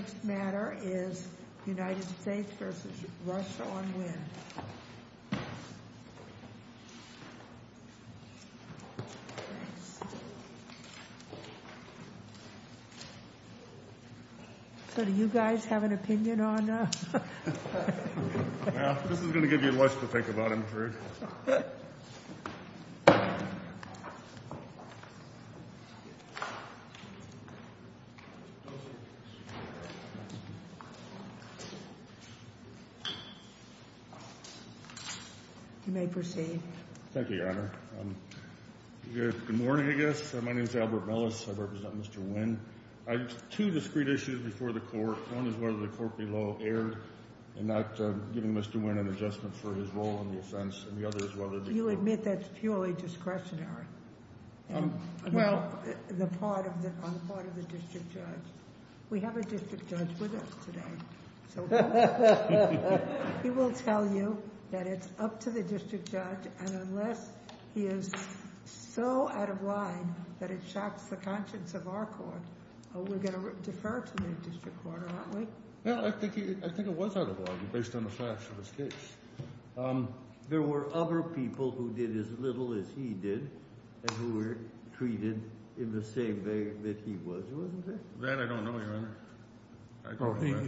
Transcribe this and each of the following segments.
The next matter is United States v. Russia on Wynn. So do you guys have an opinion on... Well, this is going to give you a lot to think about, I'm afraid. You may proceed. Thank you, Your Honor. Good morning, I guess. My name is Albert Mellis. I represent Mr. Wynn. I have two discreet issues before the court. One is whether the court below erred in not giving Mr. Wynn an adjustment for his role in the offense. And the other is whether the court... You admit that's purely discretionary on the part of the district judge. We have a district judge with us today, so he will tell you that it's up to the district judge. And unless he is so out of line that it shocks the conscience of our court, we're going to defer to the district court, aren't we? No, I think it was out of line based on the facts of his case. There were other people who did as little as he did and who were treated in the same way that he was, wasn't there? That I don't know, Your Honor.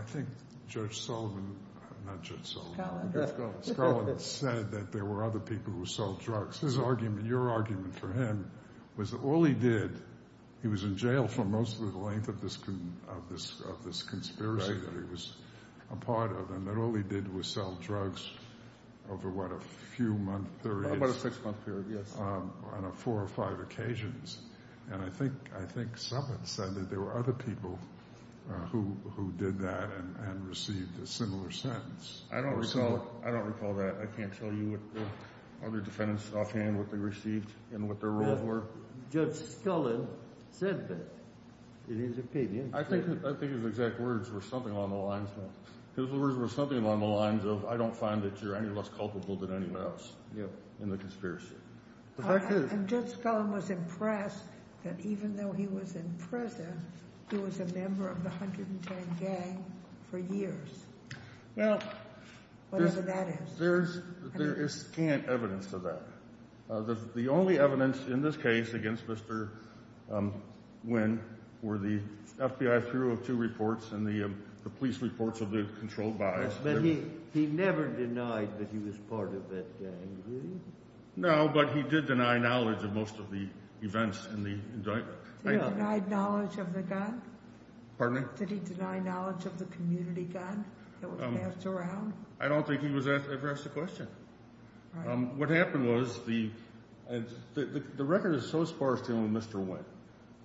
I think Judge Sullivan... Not Judge Sullivan. Scullin. Scullin said that there were other people who sold drugs. His argument, your argument for him was that all he did, he was in jail for most of the length of this conspiracy that he was a part of, and that all he did was sell drugs over what, a few-month period? About a six-month period, yes. On four or five occasions. And I think Sullivan said that there were other people who did that and received a similar sentence. I don't recall that. I can't tell you what other defendants offhand what they received and what their roles were. Judge Scullin said that in his opinion. I think his exact words were something along the lines of, I don't find that you're any less culpable than anyone else in the conspiracy. And Judge Scullin was impressed that even though he was in prison, he was a member of the 110 gang for years. Whatever that is. There is scant evidence to that. The only evidence in this case against Mr. Nguyen were the FBI 302 reports and the police reports of the controlled buys. He never denied that he was part of that gang, did he? No, but he did deny knowledge of most of the events in the indictment. Did he deny knowledge of the gang? Pardon me? Did he deny knowledge of the community gun that was passed around? I don't think he was asked the question. What happened was the record is so sparse dealing with Mr.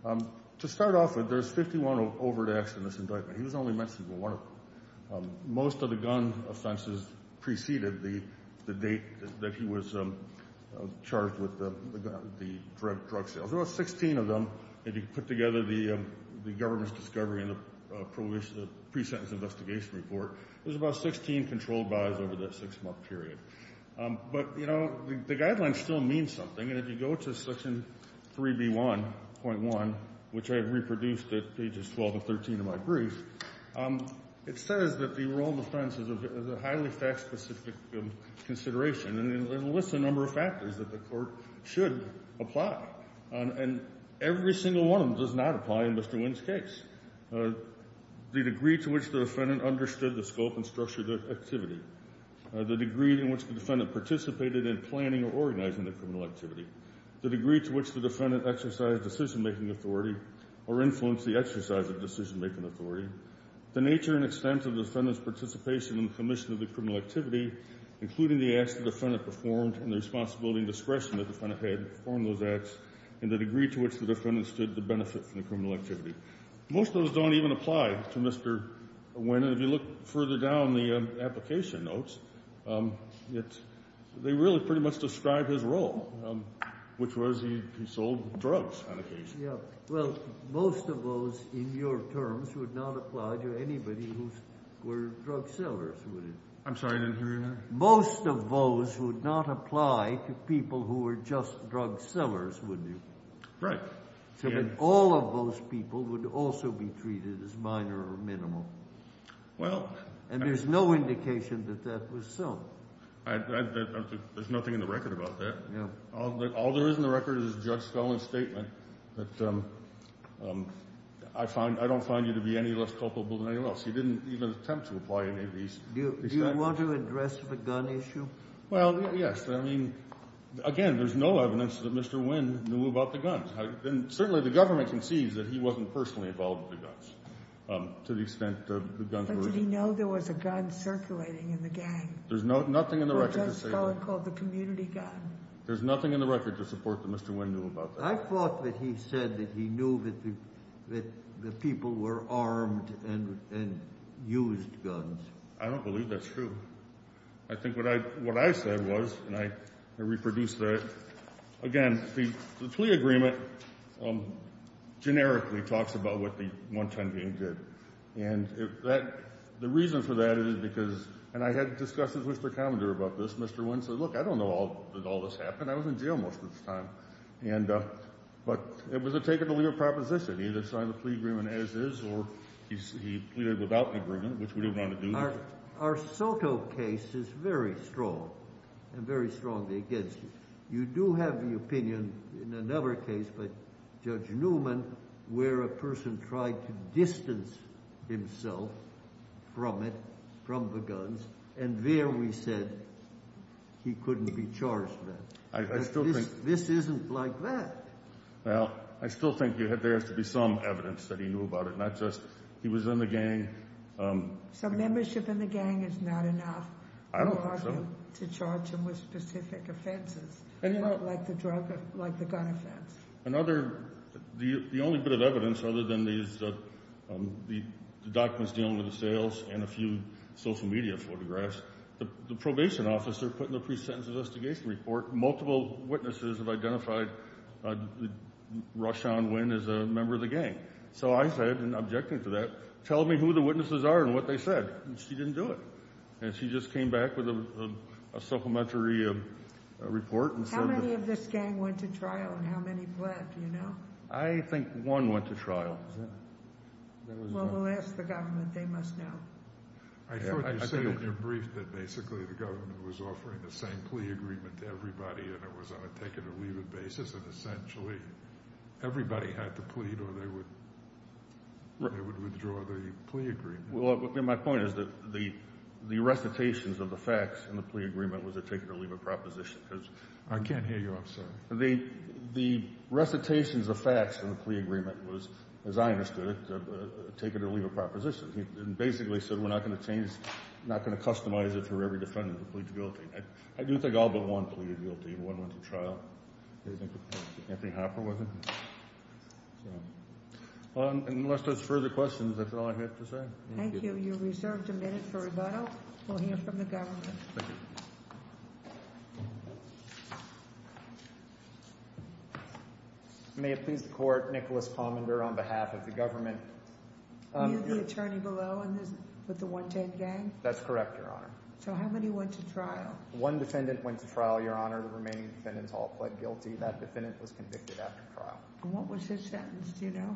Nguyen. To start off with, there's 51 overt acts in this indictment. He was only mentioned in one of them. Most of the gun offenses preceded the date that he was charged with the drug sales. There's about 16 of them if you put together the government's discovery and the pre-sentence investigation report. There's about 16 controlled buys over that six-month period. But, you know, the guidelines still mean something. And if you go to Section 3B1.1, which I have reproduced at pages 12 and 13 of my brief, it says that the enrolled offense is a highly fact-specific consideration. And it lists a number of factors that the court should apply. And every single one of them does not apply in Mr. Nguyen's case. The degree to which the defendant understood the scope and structure of the activity, the degree in which the defendant participated in planning or organizing the criminal activity, the degree to which the defendant exercised decision-making authority or influenced the exercise of decision-making authority, the nature and extent of the defendant's participation in the commission of the criminal activity, including the acts the defendant performed and the responsibility and discretion the defendant had to perform those acts, and the degree to which the defendant stood to benefit from the criminal activity. Most of those don't even apply to Mr. Nguyen. If you look further down the application notes, they really pretty much describe his role, which was he sold drugs on occasion. Yeah. Well, most of those in your terms would not apply to anybody who were drug sellers, would it? I'm sorry. I didn't hear you there. Most of those would not apply to people who were just drug sellers, would you? Right. So then all of those people would also be treated as minor or minimal. Well— And there's no indication that that was so. There's nothing in the record about that. Yeah. All there is in the record is a judge's felon statement that I don't find you to be any less culpable than anyone else. He didn't even attempt to apply any of these— Do you want to address the gun issue? Well, yes. I mean, again, there's no evidence that Mr. Nguyen knew about the guns. And certainly the government concedes that he wasn't personally involved with the guns to the extent the guns were— But did he know there was a gun circulating in the gang? There's nothing in the record to say that— A judge felon called the community gun. There's nothing in the record to support that Mr. Nguyen knew about that. I thought that he said that he knew that the people were armed and used guns. I don't believe that's true. I think what I said was—and I reproduced that. Again, the plea agreement generically talks about what the 110 gang did. And the reason for that is because—and I had discussions with Mr. Commodore about this. Mr. Nguyen said, look, I don't know that all this happened. I was in jail most of the time. But it was a take-and-deliver proposition. He either signed the plea agreement as is or he pleaded without the agreement, which we didn't want to do. Our Soto case is very strong and very strongly against it. You do have the opinion in another case by Judge Newman where a person tried to distance himself from it, from the guns, and there we said he couldn't be charged with it. I still think— This isn't like that. Well, I still think there has to be some evidence that he knew about it, not just he was in the gang. So membership in the gang is not enough— I don't think so. —to charge him with specific offenses like the gun offense. Another—the only bit of evidence other than the documents dealing with the sales and a few social media photographs, the probation officer put in the pre-sentence investigation report, multiple witnesses have identified Roshan Nguyen as a member of the gang. So I said, in objecting to that, tell me who the witnesses are and what they said. And she didn't do it. And she just came back with a supplementary report. How many of this gang went to trial and how many pled, do you know? I think one went to trial. Well, we'll ask the government. They must know. I thought you said in your brief that basically the government was offering the same plea agreement to everybody and it was on a take-it-or-leave-it basis, and essentially everybody had to plead or they would withdraw the plea agreement. Well, my point is that the recitations of the facts in the plea agreement was a take-it-or-leave-it proposition. I can't hear you. I'm sorry. The recitations of facts in the plea agreement was, as I understood it, a take-it-or-leave-it proposition. It basically said we're not going to change, not going to customize it for every defendant who pleads guilty. I do think all but one pleaded guilty and one went to trial. Anthony Hopper was it? Unless there's further questions, that's all I have to say. Thank you. You're reserved a minute for rebuttal. We'll hear from the government. Thank you. May it please the Court, Nicholas Palmender on behalf of the government. Were you the attorney below with the 110 gang? That's correct, Your Honor. So how many went to trial? One defendant went to trial, Your Honor. The remaining defendants all pled guilty. That defendant was convicted after trial. What was his sentence? Do you know?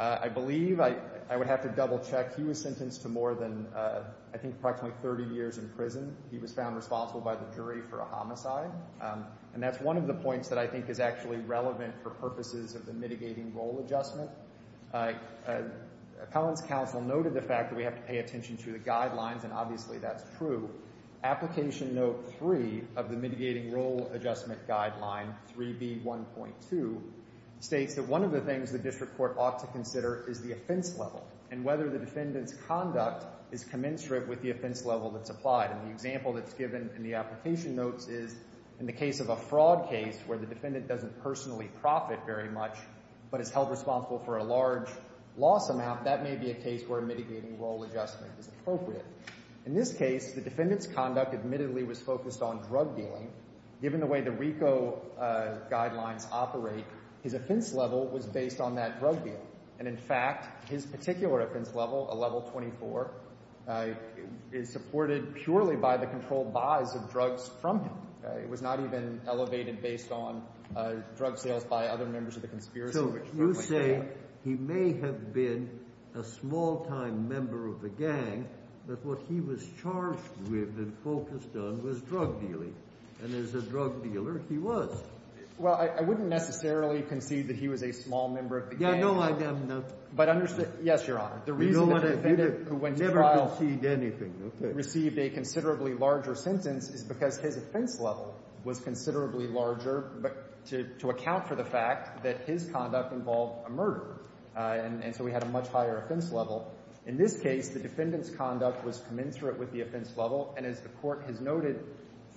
I believe I would have to double-check. He was sentenced to more than, I think, approximately 30 years in prison. He was found responsible by the jury for a homicide. And that's one of the points that I think is actually relevant for purposes of the mitigating role adjustment. Collins Counsel noted the fact that we have to pay attention to the guidelines, and obviously that's true. Application Note 3 of the Mitigating Role Adjustment Guideline 3B1.2 states that one of the things the district court ought to consider is the offense level and whether the defendant's conduct is commensurate with the offense level that's applied. And the example that's given in the application notes is in the case of a fraud case where the defendant doesn't personally profit very much but is held responsible for a large loss amount, that may be a case where a mitigating role adjustment is appropriate. In this case, the defendant's conduct admittedly was focused on drug dealing. Given the way the RICO guidelines operate, his offense level was based on that drug deal. And, in fact, his particular offense level, a level 24, is supported purely by the controlled buys of drugs from him. It was not even elevated based on drug sales by other members of the conspiracy group. You say he may have been a small-time member of the gang, but what he was charged with and focused on was drug dealing. And as a drug dealer, he was. Well, I wouldn't necessarily concede that he was a small member of the gang. Yeah, no. Yes, Your Honor. You don't want to concede anything. The reason why the defendant received a considerably larger sentence is because his offense level was considerably larger, but to account for the fact that his conduct involved a murder. And so he had a much higher offense level. In this case, the defendant's conduct was commensurate with the offense level. And as the Court has noted,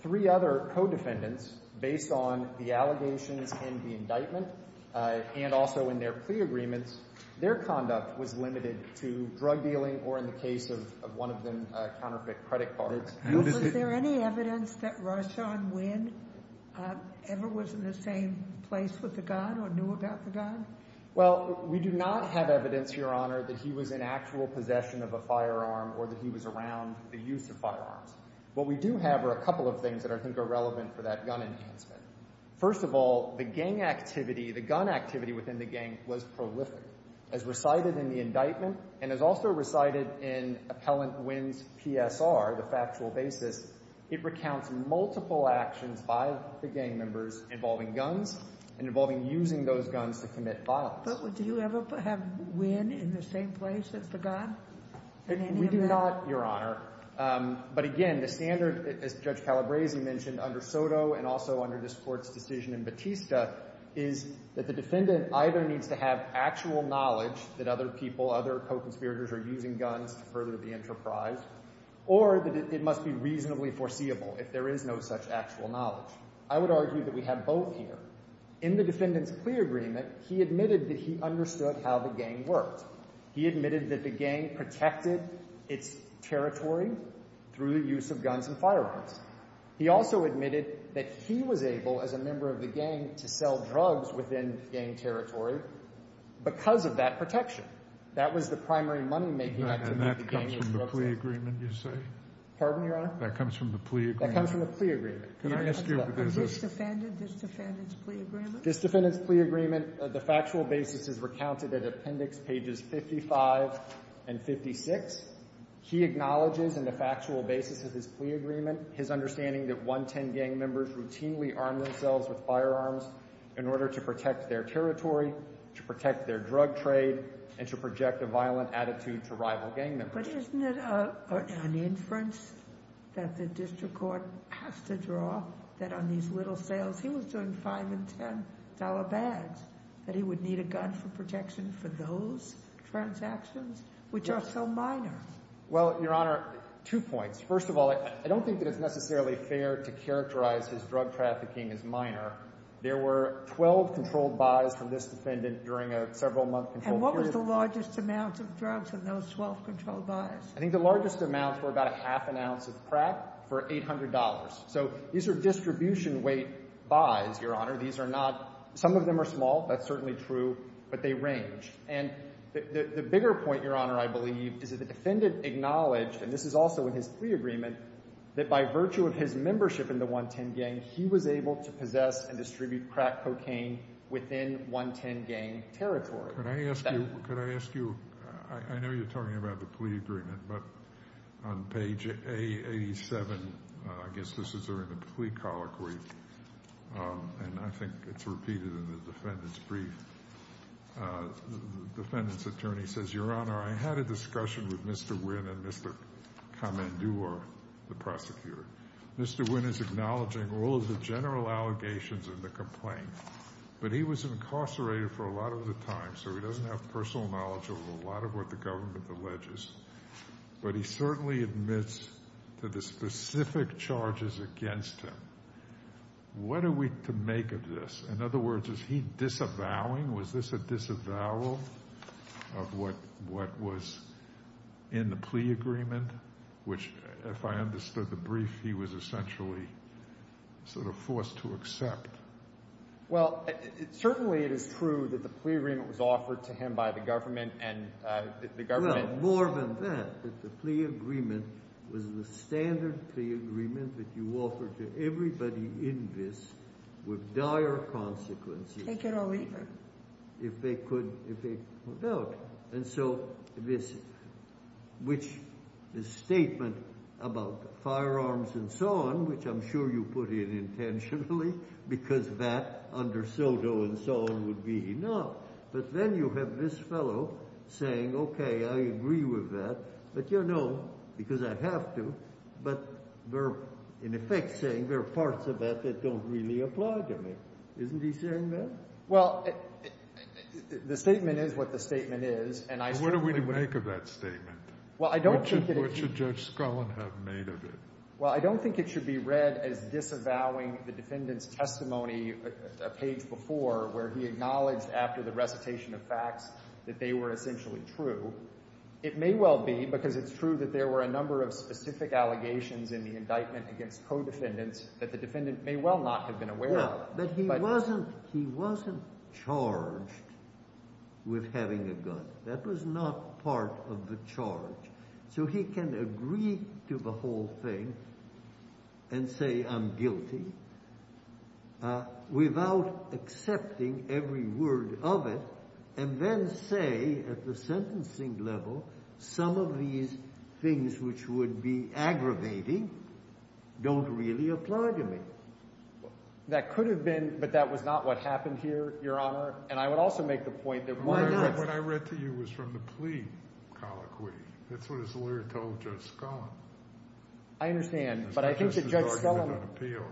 three other co-defendants, based on the allegations and the indictment and also in their plea agreements, their conduct was limited to drug dealing or, in the case of one of them, counterfeit credit cards. Was there any evidence that Roshon Winn ever was in the same place with the gun or knew about the gun? Well, we do not have evidence, Your Honor, that he was in actual possession of a firearm or that he was around the use of firearms. What we do have are a couple of things that I think are relevant for that gun enhancement. First of all, the gang activity, the gun activity within the gang was prolific. As recited in the indictment and as also recited in Appellant Winn's PSR, the factual basis, it recounts multiple actions by the gang members involving guns and involving using those guns to commit violence. But do you ever have Winn in the same place as the gun in any of that? We do not, Your Honor. But, again, the standard, as Judge Calabresi mentioned, under Soto and also under this Court's decision in Batista, is that the defendant either needs to have actual knowledge that other people, other co-conspirators, are using guns to further the enterprise or that it must be reasonably foreseeable if there is no such actual knowledge. I would argue that we have both here. In the defendant's plea agreement, he admitted that he understood how the gang worked. He admitted that the gang protected its territory through the use of guns and firearms. He also admitted that he was able, as a member of the gang, to sell drugs within gang territory because of that protection. That was the primary money-making activity of the gang was drugs sales. And that comes from the plea agreement, you say? Pardon, Your Honor? That comes from the plea agreement. That comes from the plea agreement. Can I ask you if there's a… A disdefendant's plea agreement? This defendant's plea agreement, the factual basis is recounted at Appendix Pages 55 and 56. He acknowledges in the factual basis of his plea agreement, his understanding that 110 gang members routinely armed themselves with firearms in order to protect their territory, to protect their drug trade, and to project a violent attitude to rival gang members. But isn't it an inference that the district court has to draw that on these little sales, he was doing $5 and $10 bags, that he would need a gun for protection for those transactions, which are so minor? Well, Your Honor, two points. First of all, I don't think that it's necessarily fair to characterize his drug trafficking as minor. There were 12 controlled buys from this defendant during a several-month controlled period. And what was the largest amount of drugs in those 12 controlled buys? I think the largest amounts were about a half an ounce of crack for $800. So these are distribution-weight buys, Your Honor. These are not – some of them are small, that's certainly true, but they range. And the bigger point, Your Honor, I believe, is that the defendant acknowledged, and this is also in his plea agreement, that by virtue of his membership in the 110 gang, he was able to possess and distribute crack cocaine within 110 gang territory. Could I ask you – I know you're talking about the plea agreement, but on page 87, I guess this is during the plea colloquy, and I think it's repeated in the defendant's brief, the defendant's attorney says, Your Honor, I had a discussion with Mr. Wynn and Mr. Kamandua, the prosecutor. Mr. Wynn is acknowledging all of the general allegations in the complaint, but he was incarcerated for a lot of the time, so he doesn't have personal knowledge of a lot of what the government alleges. But he certainly admits to the specific charges against him. What are we to make of this? In other words, is he disavowing? Was this a disavowal of what was in the plea agreement, which if I understood the brief, he was essentially sort of forced to accept? Well, certainly it is true that the plea agreement was offered to him by the government. No, more than that, that the plea agreement was the standard plea agreement that you offer to everybody in this with dire consequences. Take it or leave it. And so this statement about firearms and so on, which I'm sure you put in intentionally because that under Soto and so on would be enough, but then you have this fellow saying, Okay, I agree with that, but you know, because I have to, but we're in effect saying there are parts of that that don't really apply to me. Isn't he saying that? Well, the statement is what the statement is. What are we to make of that statement? What should Judge Scullin have made of it? Well, I don't think it should be read as disavowing the defendant's testimony a page before where he acknowledged after the recitation of facts that they were essentially true. It may well be because it's true that there were a number of specific allegations in the indictment against co-defendants that the defendant may well not have been aware of. But he wasn't charged with having a gun. That was not part of the charge. So he can agree to the whole thing and say I'm guilty without accepting every word of it and then say at the sentencing level some of these things which would be aggravating don't really apply to me. That could have been, but that was not what happened here, Your Honor. And I would also make the point that why not? What I read to you was from the plea colloquy. That's what his lawyer told Judge Scullin. I understand, but I think that Judge Scullin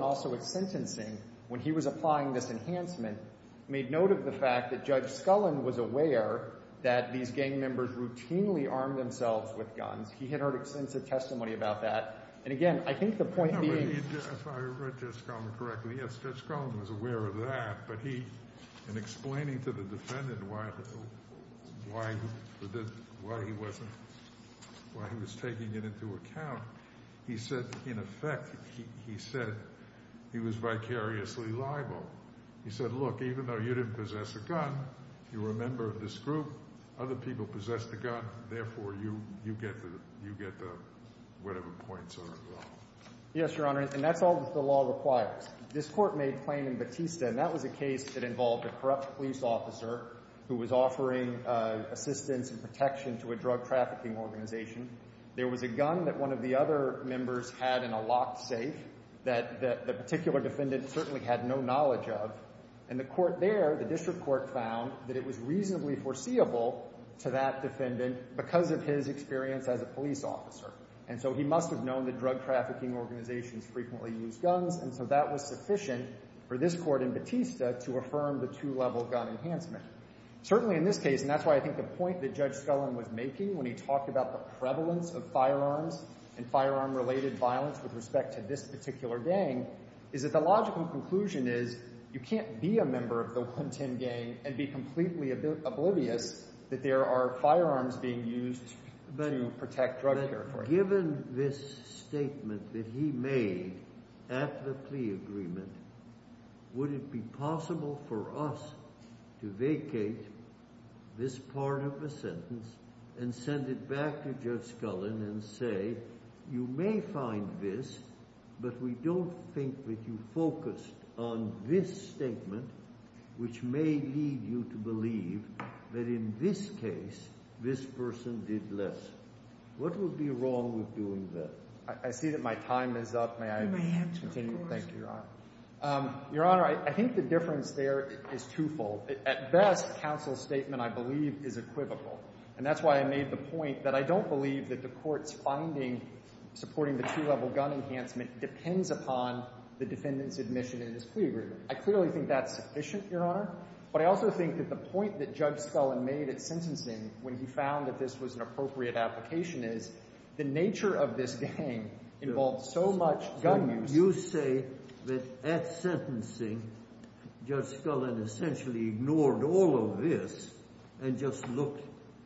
also at sentencing when he was applying this enhancement made note of the fact that Judge Scullin was aware that these gang members routinely armed themselves with guns. He had heard extensive testimony about that. And again, I think the point being— If I read Judge Scullin correctly, yes, Judge Scullin was aware of that, but he in explaining to the defendant why he was taking it into account, he said in effect he was vicariously liable. He said, look, even though you didn't possess a gun, you were a member of this group. Other people possessed a gun. Therefore, you get the whatever points on the law. Yes, Your Honor, and that's all that the law requires. This court made plain in Batista, and that was a case that involved a corrupt police officer who was offering assistance and protection to a drug trafficking organization. There was a gun that one of the other members had in a locked safe that the particular defendant certainly had no knowledge of. And the court there, the district court, found that it was reasonably foreseeable to that defendant because of his experience as a police officer. And so he must have known that drug trafficking organizations frequently used guns, and so that was sufficient for this court in Batista to affirm the two-level gun enhancement. Certainly in this case, and that's why I think the point that Judge Scullin was making when he talked about the prevalence of firearms and firearm-related violence with respect to this particular gang, is that the logical conclusion is you can't be a member of the 110 gang and be completely oblivious that there are firearms being used to protect drug trafficking. But given this statement that he made at the plea agreement, would it be possible for us to vacate this part of the sentence and send it back to Judge Scullin and say, you may find this, but we don't think that you focused on this statement, which may lead you to believe that in this case this person did less? What would be wrong with doing that? I see that my time is up. May I continue? You may have to, of course. Thank you, Your Honor. Your Honor, I think the difference there is twofold. At best, counsel's statement, I believe, is equivocal. And that's why I made the point that I don't believe that the Court's finding supporting the two-level gun enhancement depends upon the defendant's admission in this plea agreement. I clearly think that's sufficient, Your Honor. But I also think that the point that Judge Scullin made at sentencing when he found that this was an appropriate application is the nature of this gang involved so much gun use. You say that at sentencing Judge Scullin essentially ignored all of this and just looked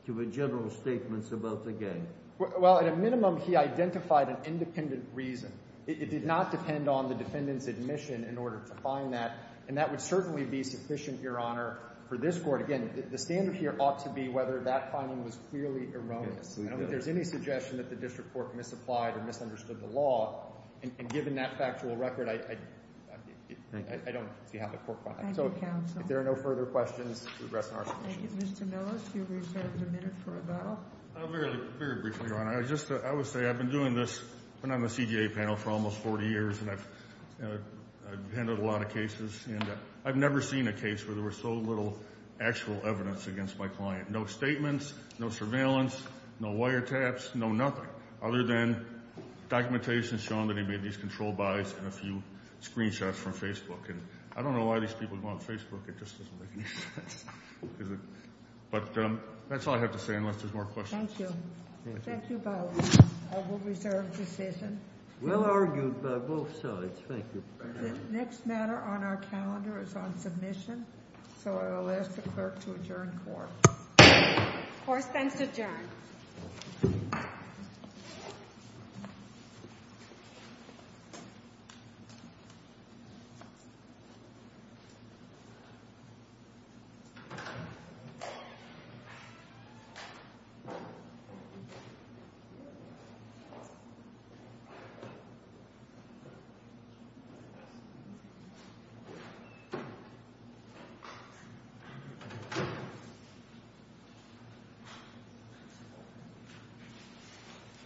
to the general statements about the gang. Well, at a minimum, he identified an independent reason. It did not depend on the defendant's admission in order to find that. And that would certainly be sufficient, Your Honor, for this Court. Again, the standard here ought to be whether that finding was clearly erroneous. I don't think there's any suggestion that the district court misapplied or misunderstood the law. And given that factual record, I don't see how the Court would find it. Thank you, counsel. If there are no further questions, we'll address them in our submission. Thank you. Mr. Millis, you reserved a minute for a vote. Very briefly, Your Honor. I would say I've been doing this when I'm a CJA panel for almost 40 years, and I've handled a lot of cases. I've never seen a case where there was so little actual evidence against my client. No statements, no surveillance, no wiretaps, no nothing other than documentation showing that he made these controlled buys and a few screenshots from Facebook. And I don't know why these people go on Facebook. It just doesn't make any sense. But that's all I have to say unless there's more questions. Thank you. Thank you both. I will reserve the decision. Well argued by both sides. Thank you. The next matter on our calendar is on submission, so I will ask the clerk to adjourn the Court. The Court stands adjourned. Thank you.